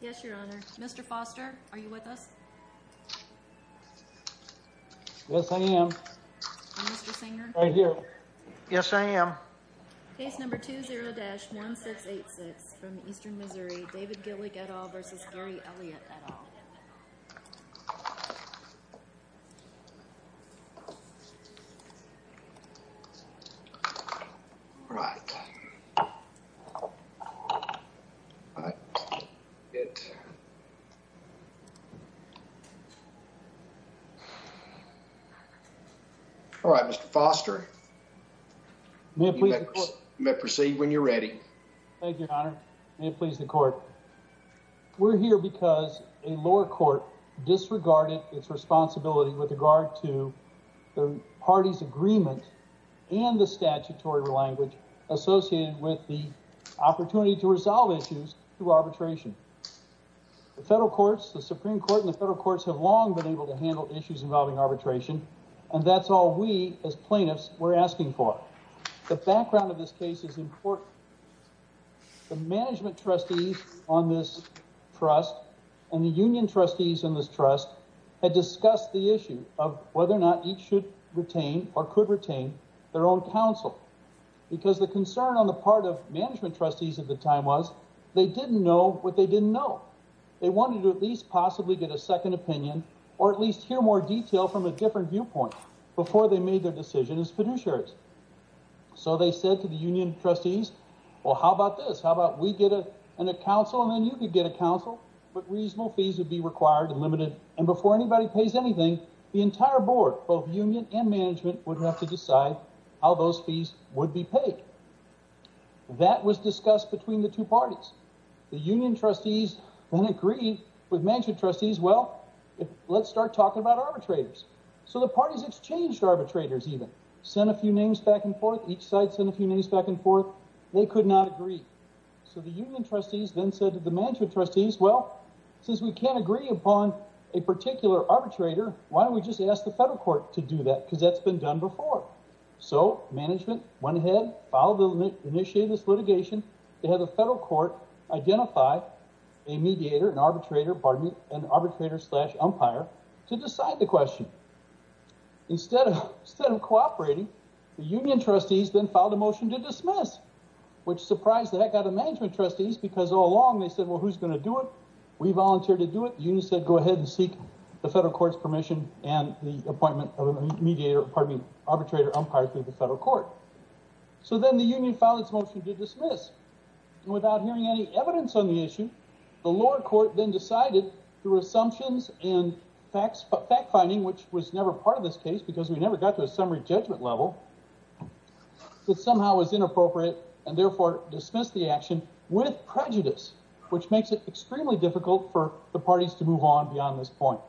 Yes, Your Honor. Mr. Foster, are you with us? Yes, I am. And Mr. Sanger? I'm here. Yes, I am. Case number 20-1686 from Eastern Missouri, David Gillick et al. v. Gary Elliott et al. Right. All right, Mr. Foster. You may proceed when you're ready. Thank you, Your Honor. May it please the Court. We're here because a lower court disregarded its responsibility with regard to the party's agreement and the statutory language associated with the opportunity to resolve issues through arbitration. The federal courts, the Supreme Court, and the federal courts have long been able to handle issues involving arbitration, and that's all we, as plaintiffs, were asking for. The background of this case is important. The management trustees on this trust and the union trustees on this trust had discussed the issue of whether or not each should retain or could retain their own counsel because the concern on the part of management trustees at the time was they didn't know what they didn't know. They wanted to at least possibly get a second opinion or at least hear more detail from a different viewpoint before they made their decision as fiduciaries. So they said to the union trustees, well, how about this? How about we get a counsel and then you could get a counsel? But reasonable fees would be required and limited, and before anybody pays anything, the entire board, both union and management, would have to decide how those fees would be paid. That was discussed between the two parties. The union trustees then agreed with management trustees, well, let's start talking about arbitrators. So the parties exchanged arbitrators even, sent a few names back and forth, each side sent a few names back and forth. They could not agree. So the union trustees then said to the management trustees, well, since we can't agree upon a particular arbitrator, why don't we just ask the federal court to do that because that's been done before. So management went ahead, initiated this litigation. They had the federal court identify a mediator, an arbitrator, pardon me, an arbitrator slash umpire to decide the question. Instead of cooperating, the union trustees then filed a motion to dismiss, which surprised the heck out of management trustees because all along they said, well, who's going to do it? We volunteered to do it. The union said, go ahead and seek the federal court's permission and the appointment of a mediator, pardon me, arbitrator umpire through the federal court. So then the union filed its motion to dismiss. Without hearing any evidence on the issue, the lower court then decided through assumptions and fact finding, which was never part of this case because we never got to a summary judgment level, which somehow was inappropriate and therefore dismissed the action with prejudice, which makes it extremely difficult for the parties to move on beyond this point.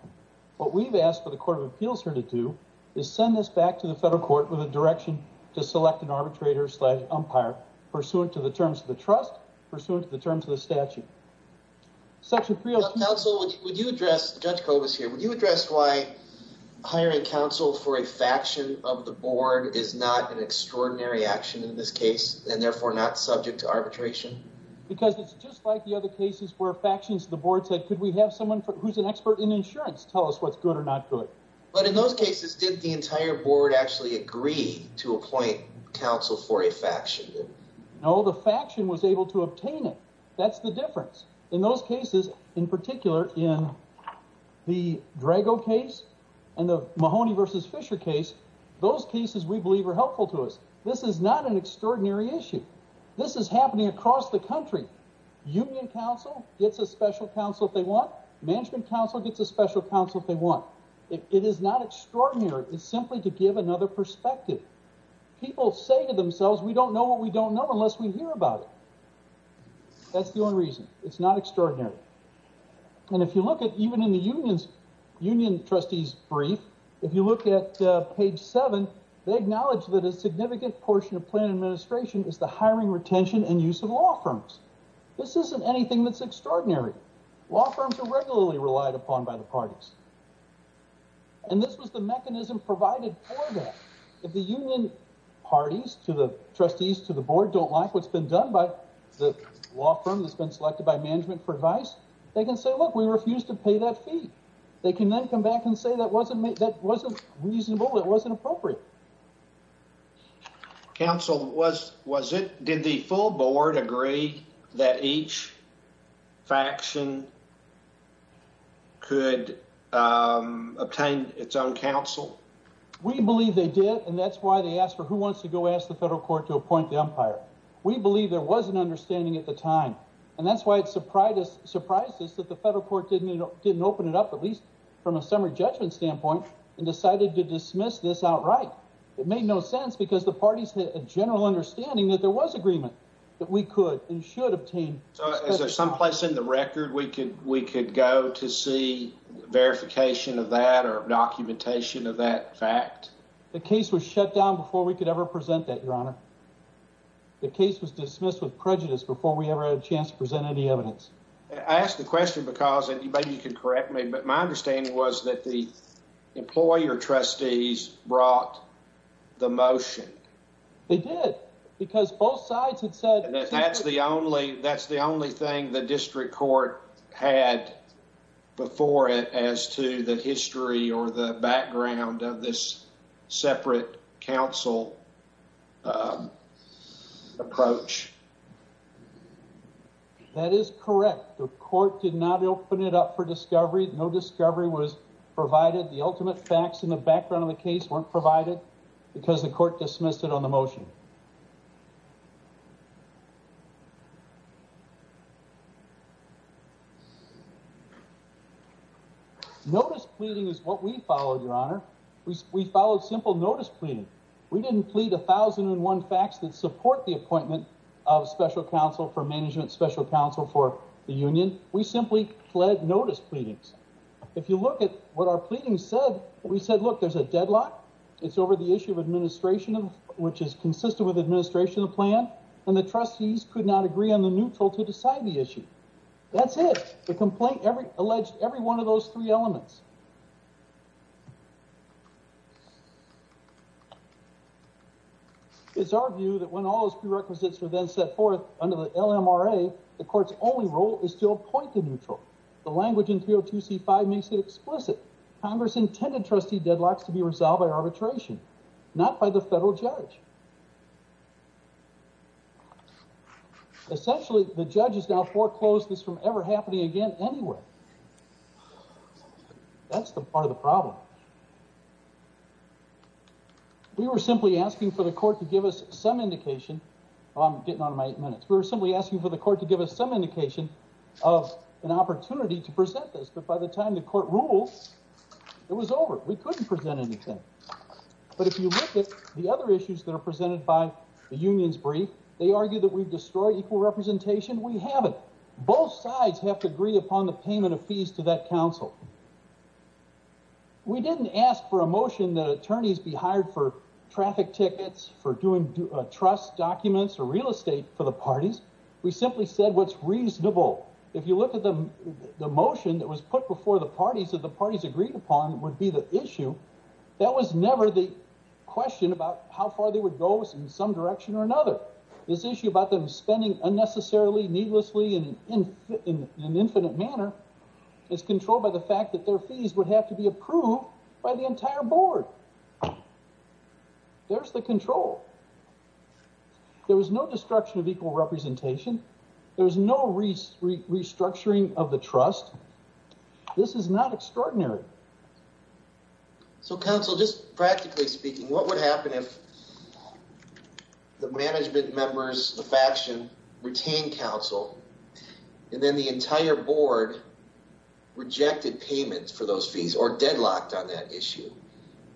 What we've asked for the court of appeals here to do is send this back to the federal court with a direction to select an arbitrator slash umpire pursuant to the terms of the trust, pursuant to the terms of the statute. Section 302. Counsel, would you address, Judge Cobus here, would you address why hiring counsel for a faction of the board is not an extraordinary action in this case and therefore not subject to arbitration? Because it's just like the other cases where factions of the board said, could we have someone who's an expert in insurance tell us what's good or not good. But in those cases, did the entire board actually agree to appoint counsel for a faction? No, the faction was able to obtain it. That's the difference. In those cases, in particular, in the Drago case and the Mahoney versus Fisher case, those cases we believe are helpful to us. This is not an extraordinary issue. This is happening across the country. Union counsel gets a special counsel if they want. Management counsel gets a special counsel if they want. It is not extraordinary. It's simply to give another perspective. People say to themselves, we don't know what we don't know unless we hear about it. That's the only reason. It's not extraordinary. And if you look at even in the union's union trustees brief, if you look at page seven, they acknowledge that a significant portion of plan administration is the hiring retention and use of law firms. This isn't anything that's extraordinary. Law firms are regularly relied upon by the parties. And this was the mechanism provided for that. If the union parties to the trustees to the board don't like what's been done by the law firm that's been selected by management for advice, they can say, look, we refuse to pay that fee. They can then come back and say that wasn't reasonable, it wasn't appropriate. Counsel, was it? Did the full board agree that each faction could obtain its own counsel? We believe they did. And that's why they asked for who wants to go ask the federal court to appoint the umpire. We believe there was an understanding at the time. And that's why it surprised us that the federal court didn't open it up, at least from a summary judgment standpoint, and decided to dismiss this outright. It made no sense because the parties had a general understanding that there was agreement that we could and should obtain. So is there someplace in the record we could go to see verification of that or documentation of that fact? The case was shut down before we could ever present that, Your Honor. The case was dismissed with prejudice before we ever had a chance to present any evidence. I ask the question because, and maybe you can correct me, but my understanding was that the employer trustees brought the motion. They did. That's the only thing the district court had before it as to the history or the background of this separate counsel approach. That is correct. The court did not open it up for discovery. No discovery was provided. The ultimate facts in the background of the case weren't provided because the court dismissed it on the motion. Notice pleading is what we followed, Your Honor. We followed simple notice pleading. We didn't plead 1,001 facts that support the appointment of special counsel for management, special counsel for the union. We simply pled notice pleadings. If you look at what our pleading said, we said, look, there's a deadlock. It's over the issue of administration, which is consistent with administration of plan, and the trustees could not agree on the neutral to decide the issue. That's it. The complaint alleged every one of those three elements. It's our view that when all those prerequisites were then set forth under the LMRA, the court's only role is to appoint the neutral. The language in 302C5 makes it explicit. Congress intended trustee deadlocks to be resolved by arbitration, not by the federal judge. Essentially, the judge has now foreclosed this from ever happening again anywhere. That's the part of the problem. We were simply asking for the court to give us some indication. I'm getting out of my eight minutes. We were simply asking for the court to give us some indication of an opportunity to present this. But by the time the court ruled, it was over. We couldn't present anything. But if you look at the other issues that are presented by the union's brief, they argue that we've destroyed equal representation. We haven't. Both sides have to agree upon the payment of fees to that counsel. We didn't ask for a motion that attorneys be hired for traffic tickets, for doing trust documents, or real estate for the parties. We simply said what's reasonable. If you look at the motion that was put before the parties that the parties agreed upon would be the issue. That was never the question about how far they would go in some direction or another. This issue about them spending unnecessarily, needlessly, in an infinite manner is controlled by the fact that their fees would have to be approved by the entire board. There's the control. There was no destruction of equal representation. There was no restructuring of the trust. This is not extraordinary. So, counsel, just practically speaking, what would happen if the management members, the faction, retained counsel and then the entire board rejected payments for those fees or deadlocked on that issue?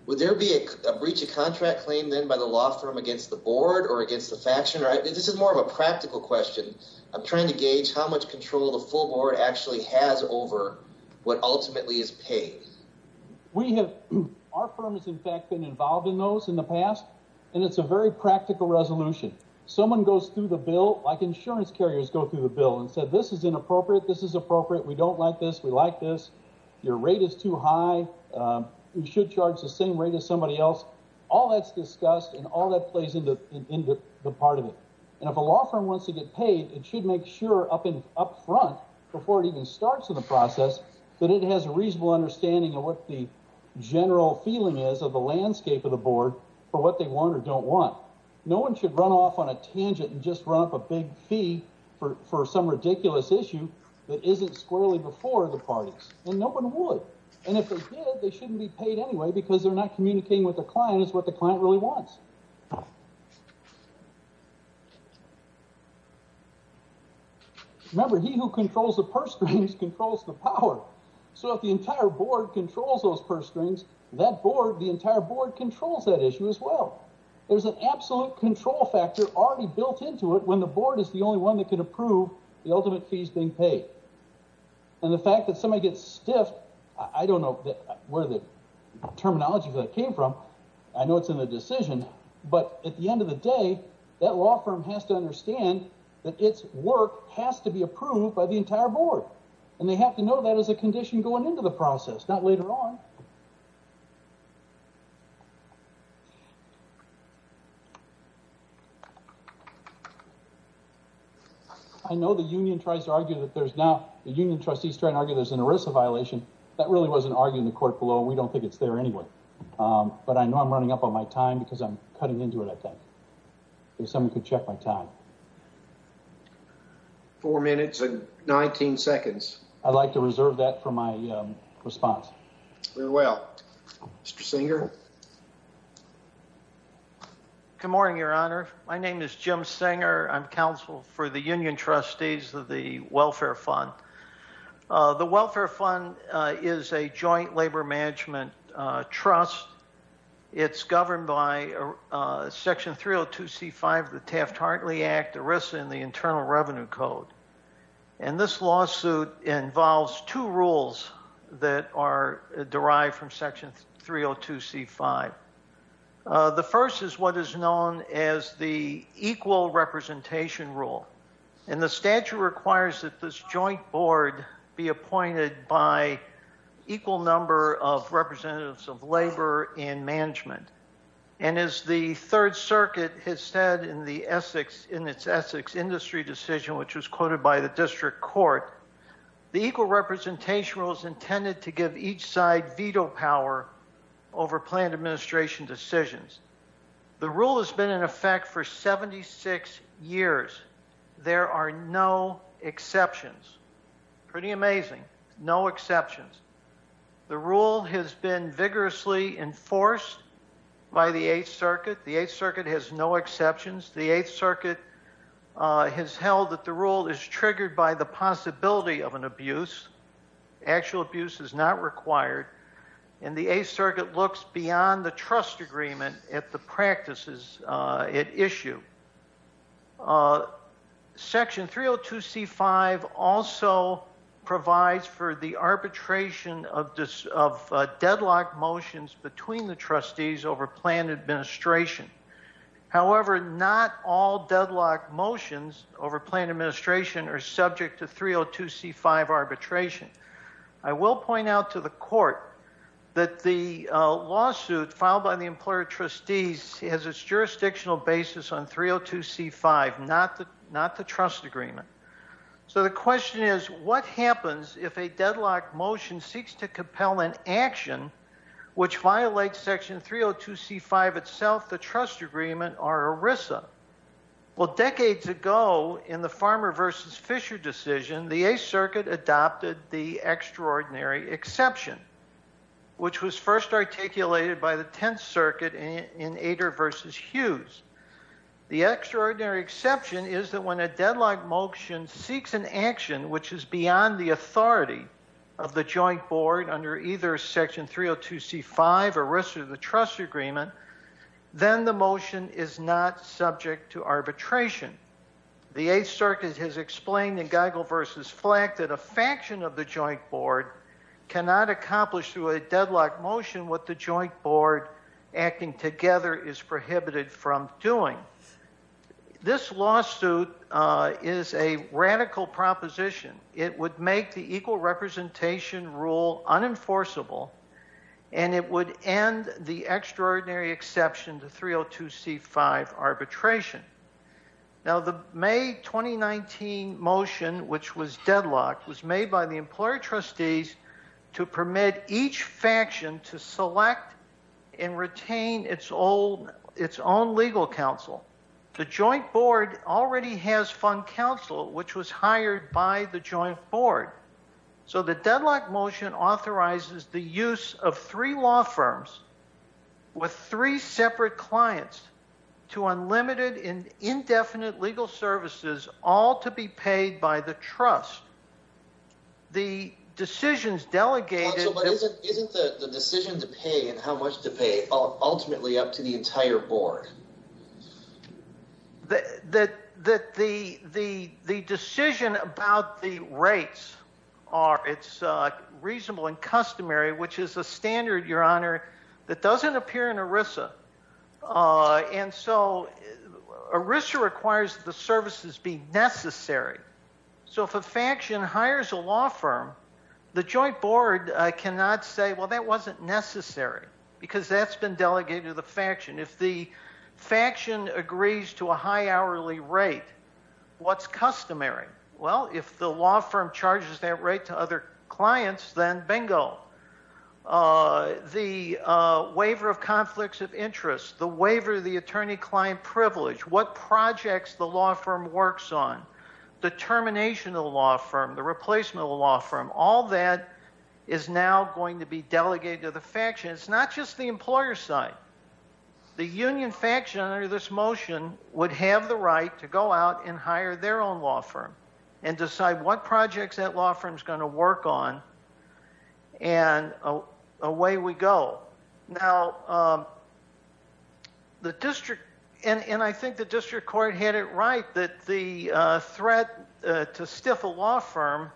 Would there be a breach of contract claimed then by the law firm against the board or against the faction? This is more of a practical question. I'm trying to gauge how much control the full board actually has over what ultimately is paid. Our firm has, in fact, been involved in those in the past, and it's a very practical resolution. Someone goes through the bill, like insurance carriers go through the bill, and said this is inappropriate, this is appropriate, we don't like this, we like this, your rate is too high, you should charge the same rate as somebody else. All that's discussed and all that plays into the part of it. And if a law firm wants to get paid, it should make sure up front, before it even starts in the process, that it has a reasonable understanding of what the general feeling is of the landscape of the board for what they want or don't want. No one should run off on a tangent and just run up a big fee for some ridiculous issue that isn't squarely before the parties. And no one would. And if they did, they shouldn't be paid anyway because they're not communicating with the client, it's what the client really wants. Remember, he who controls the purse strings controls the power. So if the entire board controls those purse strings, that board, the entire board controls that issue as well. There's an absolute control factor already built into it when the board is the only one that can approve the ultimate fees being paid. And the fact that somebody gets stiffed, I don't know where the terminology came from, I know it's in the decision, but at the end of the day, that law firm has to understand that its work has to be approved by the entire board. And they have to know that as a condition going into the process, not later on. I know the union tries to argue that there's now the union trustees trying to argue there's an ERISA violation. That really wasn't argued in the court below. We don't think it's there anyway. But I know I'm running up on my time because I'm cutting into it, I think. If someone could check my time. Four minutes and 19 seconds. I'd like to reserve that for my response. Very well. Mr. Singer. Good morning, Your Honor. My name is Jim Singer. I'm counsel for the union trustees of the Welfare Fund. The Welfare Fund is a joint labor management trust. It's governed by Section 302C5 of the Taft-Hartley Act, ERISA, and the Internal Revenue Code. And this lawsuit involves two rules that are derived from Section 302C5. The first is what is known as the equal representation rule. And the statute requires that this joint board be appointed by equal number of representatives of labor and management. And as the Third Circuit has said in its Essex industry decision, which was quoted by the district court, the equal representation rule is intended to give each side veto power over planned administration decisions. The rule has been in effect for 76 years. There are no exceptions. Pretty amazing. No exceptions. The rule has been vigorously enforced by the Eighth Circuit. The Eighth Circuit has no exceptions. The Eighth Circuit has held that the rule is triggered by the possibility of an abuse. Actual abuse is not required. And the Eighth Circuit looks beyond the trust agreement at the practices at issue. Section 302C5 also provides for the arbitration of deadlock motions between the trustees over planned administration. However, not all deadlock motions over planned administration are subject to 302C5 arbitration. I will point out to the court that the lawsuit filed by the employer trustees has its jurisdictional basis on 302C5, not the trust agreement. So the question is, what happens if a deadlock motion seeks to compel an action which violates Section 302C5 itself, the trust agreement, or ERISA? Well, decades ago, in the Farmer v. Fisher decision, the Eighth Circuit adopted the extraordinary exception, which was first articulated by the Tenth Circuit in Ader v. Hughes. The extraordinary exception is that when a deadlock motion seeks an action which is beyond the authority of the joint board under either Section 302C5 or ERISA, the trust agreement, then the motion is not subject to arbitration. The Eighth Circuit has explained in Geigel v. Flack that a faction of the joint board cannot accomplish through a deadlock motion what the joint board, acting together, is prohibited from doing. This lawsuit is a radical proposition. It would make the equal representation rule unenforceable, and it would end the extraordinary exception to 302C5 arbitration. Now, the May 2019 motion, which was deadlocked, was made by the employer trustees to permit each faction to select and retain its own legal counsel. The joint board already has fund counsel, which was hired by the joint board. So the deadlock motion authorizes the use of three law firms with three separate clients to unlimited and indefinite legal services, all to be paid by the trust. Counsel, but isn't the decision to pay and how much to pay ultimately up to the entire board? The joint board cannot say, well, that wasn't necessary because that's been delegated to the faction. If the faction agrees to a high hourly rate, what's customary? Well, if the law firm charges that rate to other clients, then bingo. The waiver of conflicts of interest, the waiver of the attorney-client privilege, what projects the law firm works on, the termination of the law firm, the replacement of the law firm, all that is now going to be delegated to the faction. It's not just the employer side. The union faction under this motion would have the right to go out and hire their own law firm and decide what projects that law firm's going to work on, and away we go. Now, the district, and I think the district court had it right that the threat to stiff a law firm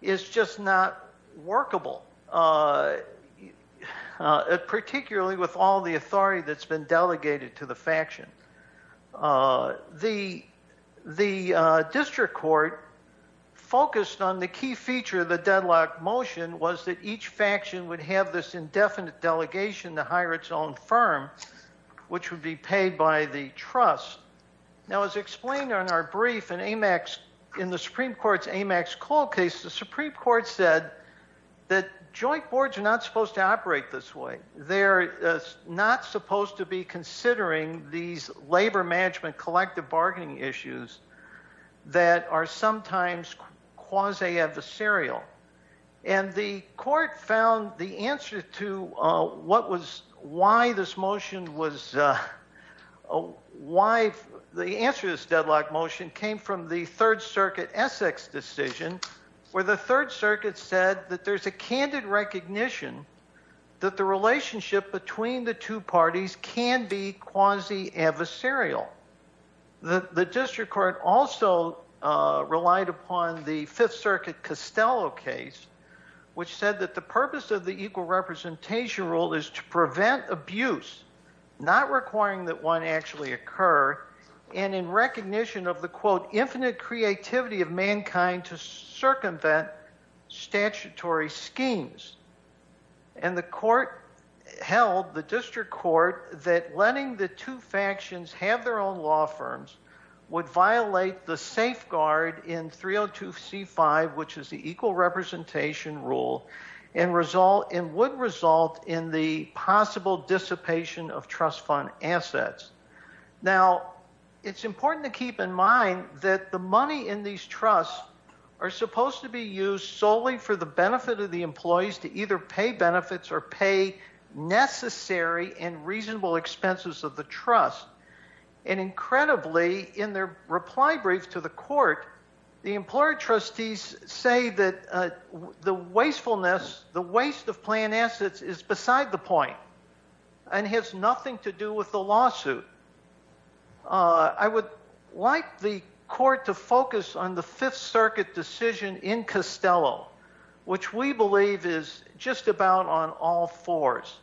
is just not workable, particularly with all the authority that's been delegated to the faction. The district court focused on the key feature of the deadlock motion was that each faction would have this indefinite delegation to hire its own firm, which would be paid by the trust. Now, as explained on our brief, in the Supreme Court's AMAX call case, the Supreme Court said that joint boards are not supposed to operate this way. They're not supposed to be considering these labor management collective bargaining issues that are sometimes quasi-adversarial. And the court found the answer to what was – why this motion was – why the answer to this deadlock motion came from the Third Circuit Essex decision, where the Third Circuit said that there's a candid recognition that the relationship between the two parties can be quasi-adversarial. The district court also relied upon the Fifth Circuit Costello case, which said that the purpose of the equal representation rule is to prevent abuse, not requiring that one actually occur, and in recognition of the, quote, infinite creativity of mankind to circumvent statutory schemes. And the court held, the district court, that letting the two factions have their own law firms would violate the safeguard in 302C5, which is the equal representation rule, and would result in the possible dissipation of trust fund assets. Now, it's important to keep in mind that the money in these trusts are supposed to be used solely for the benefit of the employees to either pay benefits or pay necessary and reasonable expenses of the trust. And incredibly, in their reply brief to the court, the employer trustees say that the wastefulness, the waste of plan assets is beside the point and has nothing to do with the lawsuit. I would like the court to focus on the Fifth Circuit decision in Costello, which we believe is just about on all fours.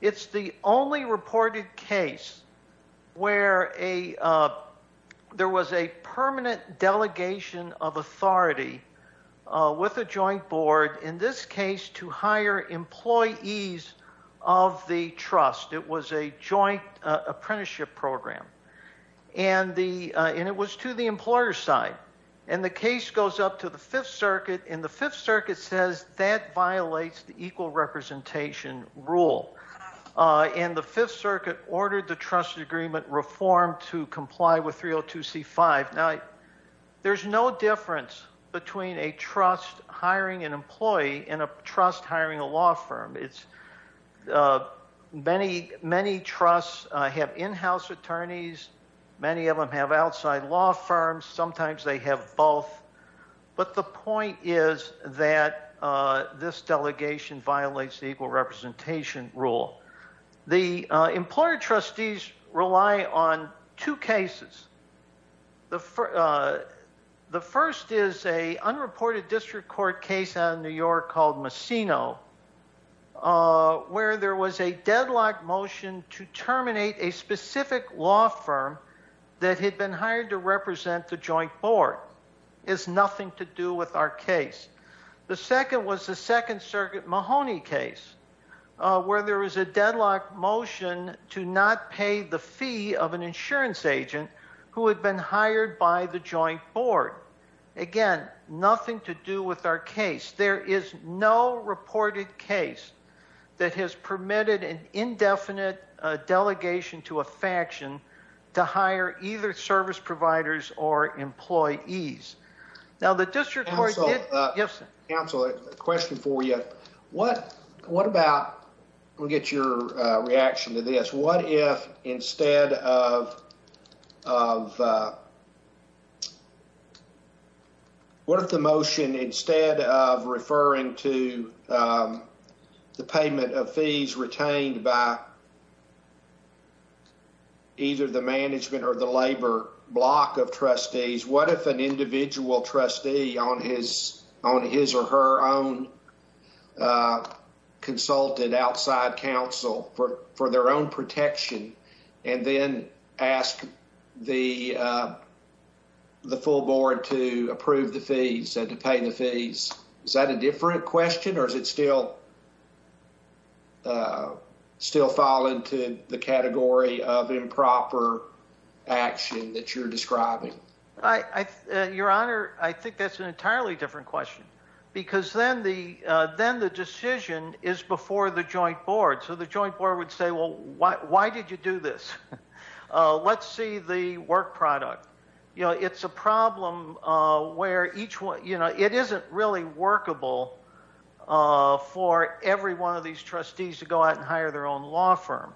It's the only reported case where a – there was a permanent delegation of authority with a joint board, in this case to hire employees of the trust. It was a joint apprenticeship program. And the – and it was to the employer's side. And the case goes up to the Fifth Circuit, and the Fifth Circuit says that violates the equal representation rule. And the Fifth Circuit ordered the trust agreement reform to comply with 302C5. Now, there's no difference between a trust hiring an employee and a trust hiring a law firm. Many trusts have in-house attorneys. Many of them have outside law firms. Sometimes they have both. But the point is that this delegation violates the equal representation rule. The employer trustees rely on two cases. The first is a unreported district court case out of New York called Messino, where there was a deadlock motion to terminate a specific law firm that had been hired to represent the joint board. This has nothing to do with our case. The second was the Second Circuit Mahoney case, where there was a deadlock motion to not pay the fee of an insurance agent who had been hired by the joint board. Again, nothing to do with our case. There is no reported case that has permitted an indefinite delegation to a faction to hire either service providers or employees. Counsel, I have a question for you. What if, instead of referring to the payment of fees retained by either the management or the labor block of trustees, what if an individual trustee on his or her own consulted outside counsel for their own protection and then asked the full board to approve the fees and to pay the fees? Is that a different question or does it still fall into the category of improper action that you're describing? Your Honor, I think that's an entirely different question. Then the decision is before the joint board. The joint board would say, why did you do this? Let's see the work product. It's a problem where it isn't really workable for every one of these trustees to go out and hire their own law firm.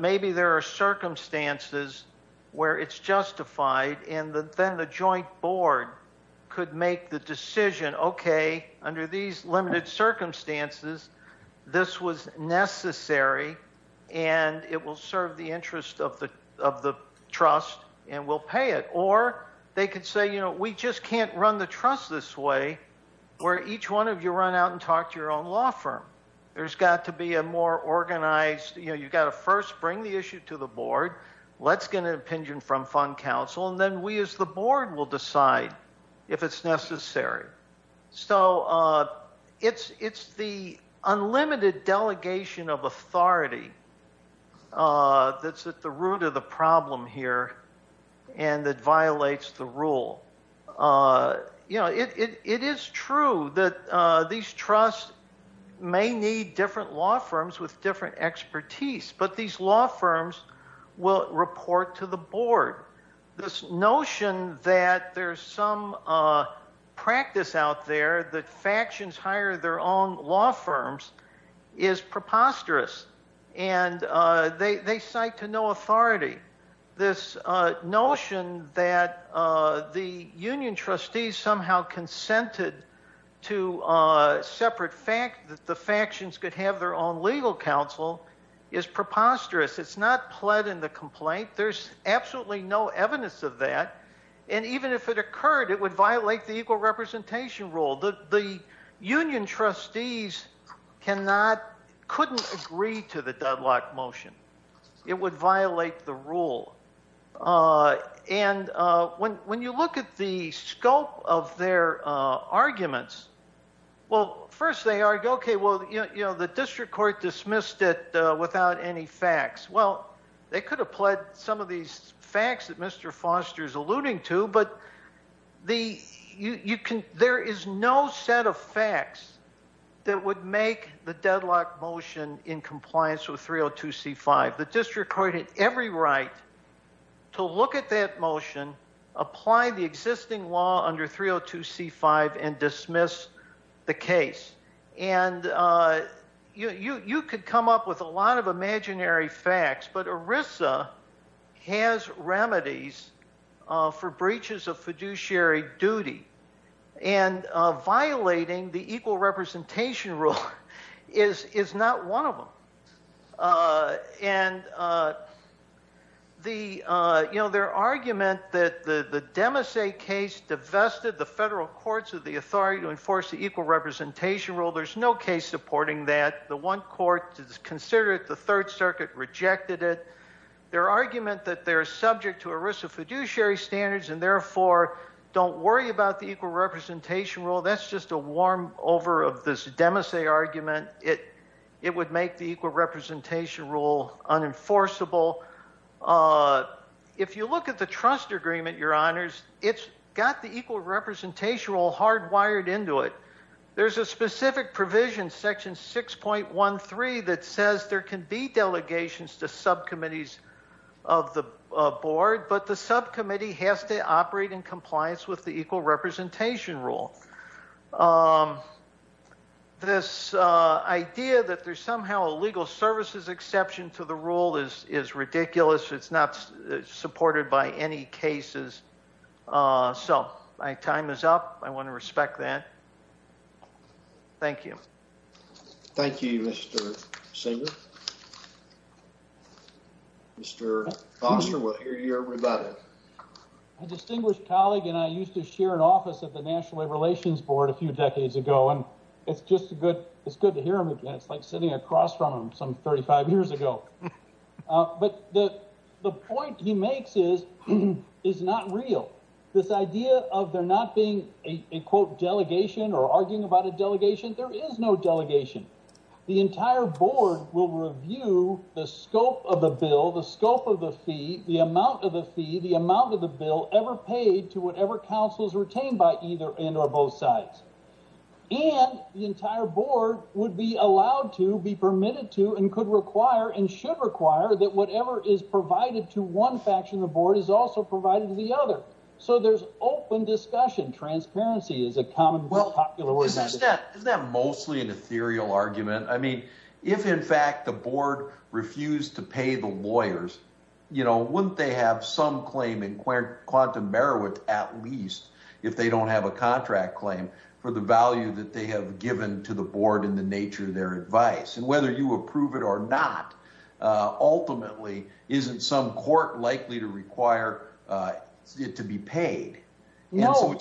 Maybe there are circumstances where it's justified and then the joint board could make the decision, okay, under these limited circumstances, this was necessary and it will serve the interest of the trust and we'll pay it. Or they could say, we just can't run the trust this way where each one of you run out and talk to your own law firm. There's got to be a more organized, you've got to first bring the issue to the board. Let's get an opinion from fund counsel and then we as the board will decide if it's necessary. So it's the unlimited delegation of authority that's at the root of the problem here and that violates the rule. It is true that these trusts may need different law firms with different expertise, but these law firms will report to the board. This notion that there's some practice out there that factions hire their own law firms is preposterous and they cite to no authority. This notion that the union trustees somehow consented to separate, that the factions could have their own legal counsel is preposterous. It's not pled in the complaint. There's absolutely no evidence of that. And even if it occurred, it would violate the equal representation rule. The union trustees couldn't agree to the Dudlock motion. It would violate the rule. And when you look at the scope of their arguments, well, first they argue, okay, well, the district court dismissed it without any facts. Well, they could have pled some of these facts that Mr. Foster is alluding to, but there is no set of facts that would make the Dudlock motion in compliance with 302c5. The district court had every right to look at that motion, apply the existing law under 302c5 and dismiss the case. And you could come up with a lot of imaginary facts, but ERISA has remedies for breaches of fiduciary duty. And violating the equal representation rule is not one of them. And, you know, their argument that the Demassais case divested the federal courts of the authority to enforce the equal representation rule, there's no case supporting that. The one court considered it, the third circuit rejected it. Their argument that they're subject to ERISA fiduciary standards and therefore don't worry about the equal representation rule, that's just a warm over of this Demassais argument. It would make the equal representation rule unenforceable. If you look at the trust agreement, your honors, it's got the equal representation rule hardwired into it. There's a specific provision, section 6.13, that says there can be delegations to subcommittees of the board, but the subcommittee has to operate in compliance with the equal representation rule. This idea that there's somehow a legal services exception to the rule is ridiculous. It's not supported by any cases. So my time is up. I want to respect that. Thank you. Thank you, Mr. Singer. Mr. Foster, we'll hear your rebuttal. My distinguished colleague and I used to share an office at the National Labor Relations Board a few decades ago. It's good to hear him again. It's like sitting across from him some 35 years ago. But the point he makes is not real. This idea of there not being a quote delegation or arguing about a delegation, there is no delegation. The entire board will review the scope of the bill, the scope of the fee, the amount of the fee, the amount of the bill ever paid to whatever counsels retained by either end or both sides. And the entire board would be allowed to, be permitted to, and could require and should require that whatever is provided to one faction of the board is also provided to the other. So there's open discussion. Transparency is a common popular practice. Isn't that mostly an ethereal argument? I mean, if in fact the board refused to pay the lawyers, wouldn't they have some claim in quantum merit at least, if they don't have a contract claim, for the value that they have given to the board and the nature of their advice? And whether you approve it or not, ultimately, isn't some court likely to require it to be paid? No,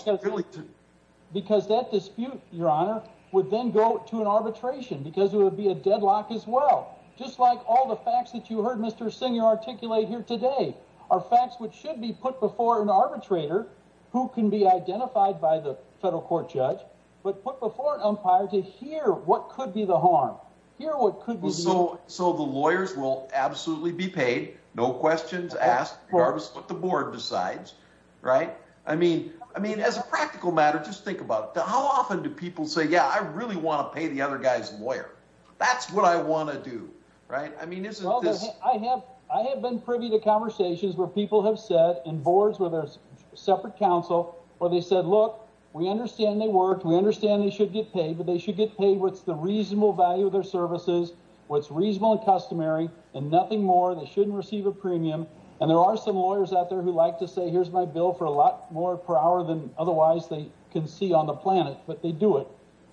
because that dispute, your honor, would then go to an arbitration because it would be a deadlock as well. Just like all the facts that you heard Mr. Singer articulate here today are facts which should be put before an arbitrator who can be identified by the federal court judge, but put before an umpire to hear what could be the harm. So the lawyers will absolutely be paid, no questions asked, regardless of what the board decides, right? I mean, as a practical matter, just think about it. How often do people say, yeah, I really want to pay the other guy's lawyer. That's what I want to do, right? I have been privy to conversations where people have said, and boards with their separate counsel, where they said, look, we understand they work, we understand they should get paid, but they should get paid what's the reasonable value of their services, what's reasonable and customary, and nothing more. They shouldn't receive a premium. And there are some lawyers out there who like to say, here's my bill for a lot more per hour than otherwise they can see on the planet, but they do it.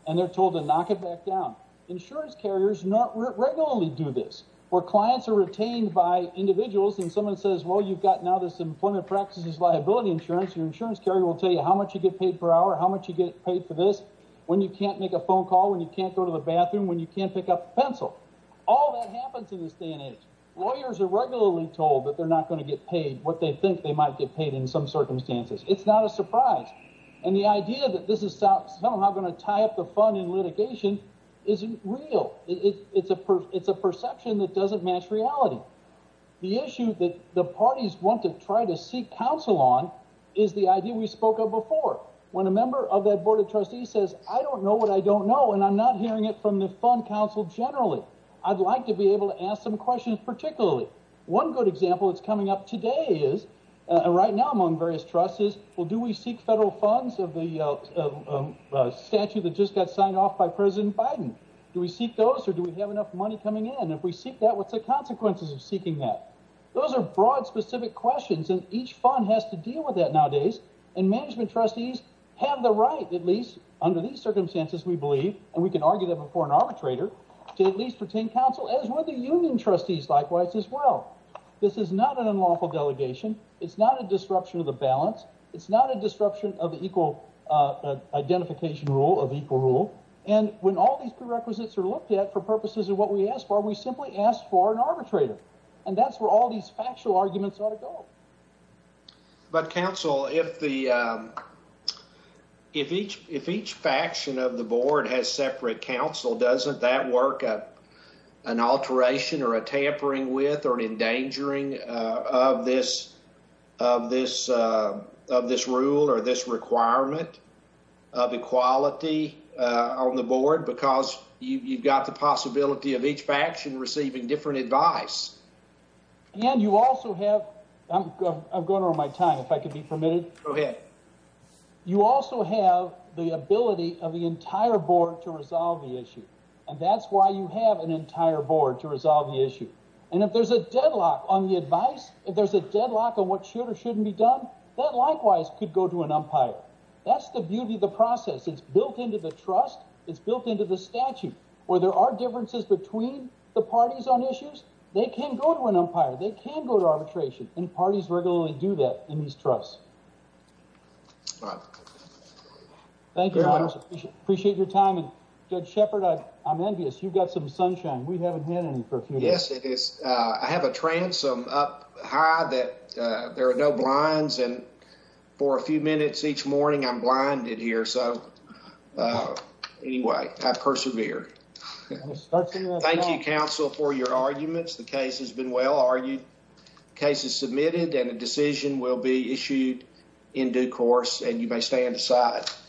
And they're told to knock it back down. Insurance carriers regularly do this, where clients are retained by individuals and someone says, well, you've got now this employment practices liability insurance. Your insurance carrier will tell you how much you get paid per hour, how much you get paid for this, when you can't make a phone call, when you can't go to the bathroom, when you can't pick up a pencil. All that happens in this day and age. Lawyers are regularly told that they're not going to get paid what they think they might get paid in some circumstances. It's not a surprise. And the idea that this is somehow going to tie up the fund in litigation isn't real. It's a perception that doesn't match reality. The issue that the parties want to try to seek counsel on is the idea we spoke of before, when a member of that board of trustees says, I don't know what I don't know, and I'm not hearing it from the fund counsel generally. I'd like to be able to ask some questions particularly. One good example that's coming up today is right now among various trusts is, well, do we seek federal funds of the statute that just got signed off by President Biden? Do we seek those or do we have enough money coming in? If we seek that, what's the consequences of seeking that? Those are broad, specific questions, and each fund has to deal with that nowadays. And management trustees have the right, at least under these circumstances, we believe, and we can argue that before an arbitrator, to at least pertain counsel, as would the union trustees likewise as well. This is not an unlawful delegation. It's not a disruption of the balance. It's not a disruption of equal identification rule of equal rule. And when all these prerequisites are looked at for purposes of what we ask for, we simply ask for an arbitrator. And that's where all these factual arguments ought to go. But counsel, if each faction of the board has separate counsel, doesn't that work an alteration or a tampering with or an endangering of this rule or this requirement of equality on the board? Because you've got the possibility of each faction receiving different advice. And you also have, I'm going over my time, if I could be permitted. Go ahead. You also have the ability of the entire board to resolve the issue. And that's why you have an entire board to resolve the issue. And if there's a deadlock on the advice, if there's a deadlock on what should or shouldn't be done, that likewise could go to an umpire. That's the beauty of the process. It's built into the trust. It's built into the statute. Where there are differences between the parties on issues, they can go to an umpire. They can go to arbitration. And parties regularly do that in these trusts. All right. Thank you, Your Honor. Appreciate your time. And Judge Shepard, I'm envious. You've got some sunshine. We haven't had any for a few minutes. Yes, it is. I have a transom up high that there are no blinds. And for a few minutes each morning, I'm blinded here. So, anyway, I persevere. Thank you, counsel, for your arguments. The case has been well argued. The case is submitted and a decision will be issued in due course. And you may stand aside.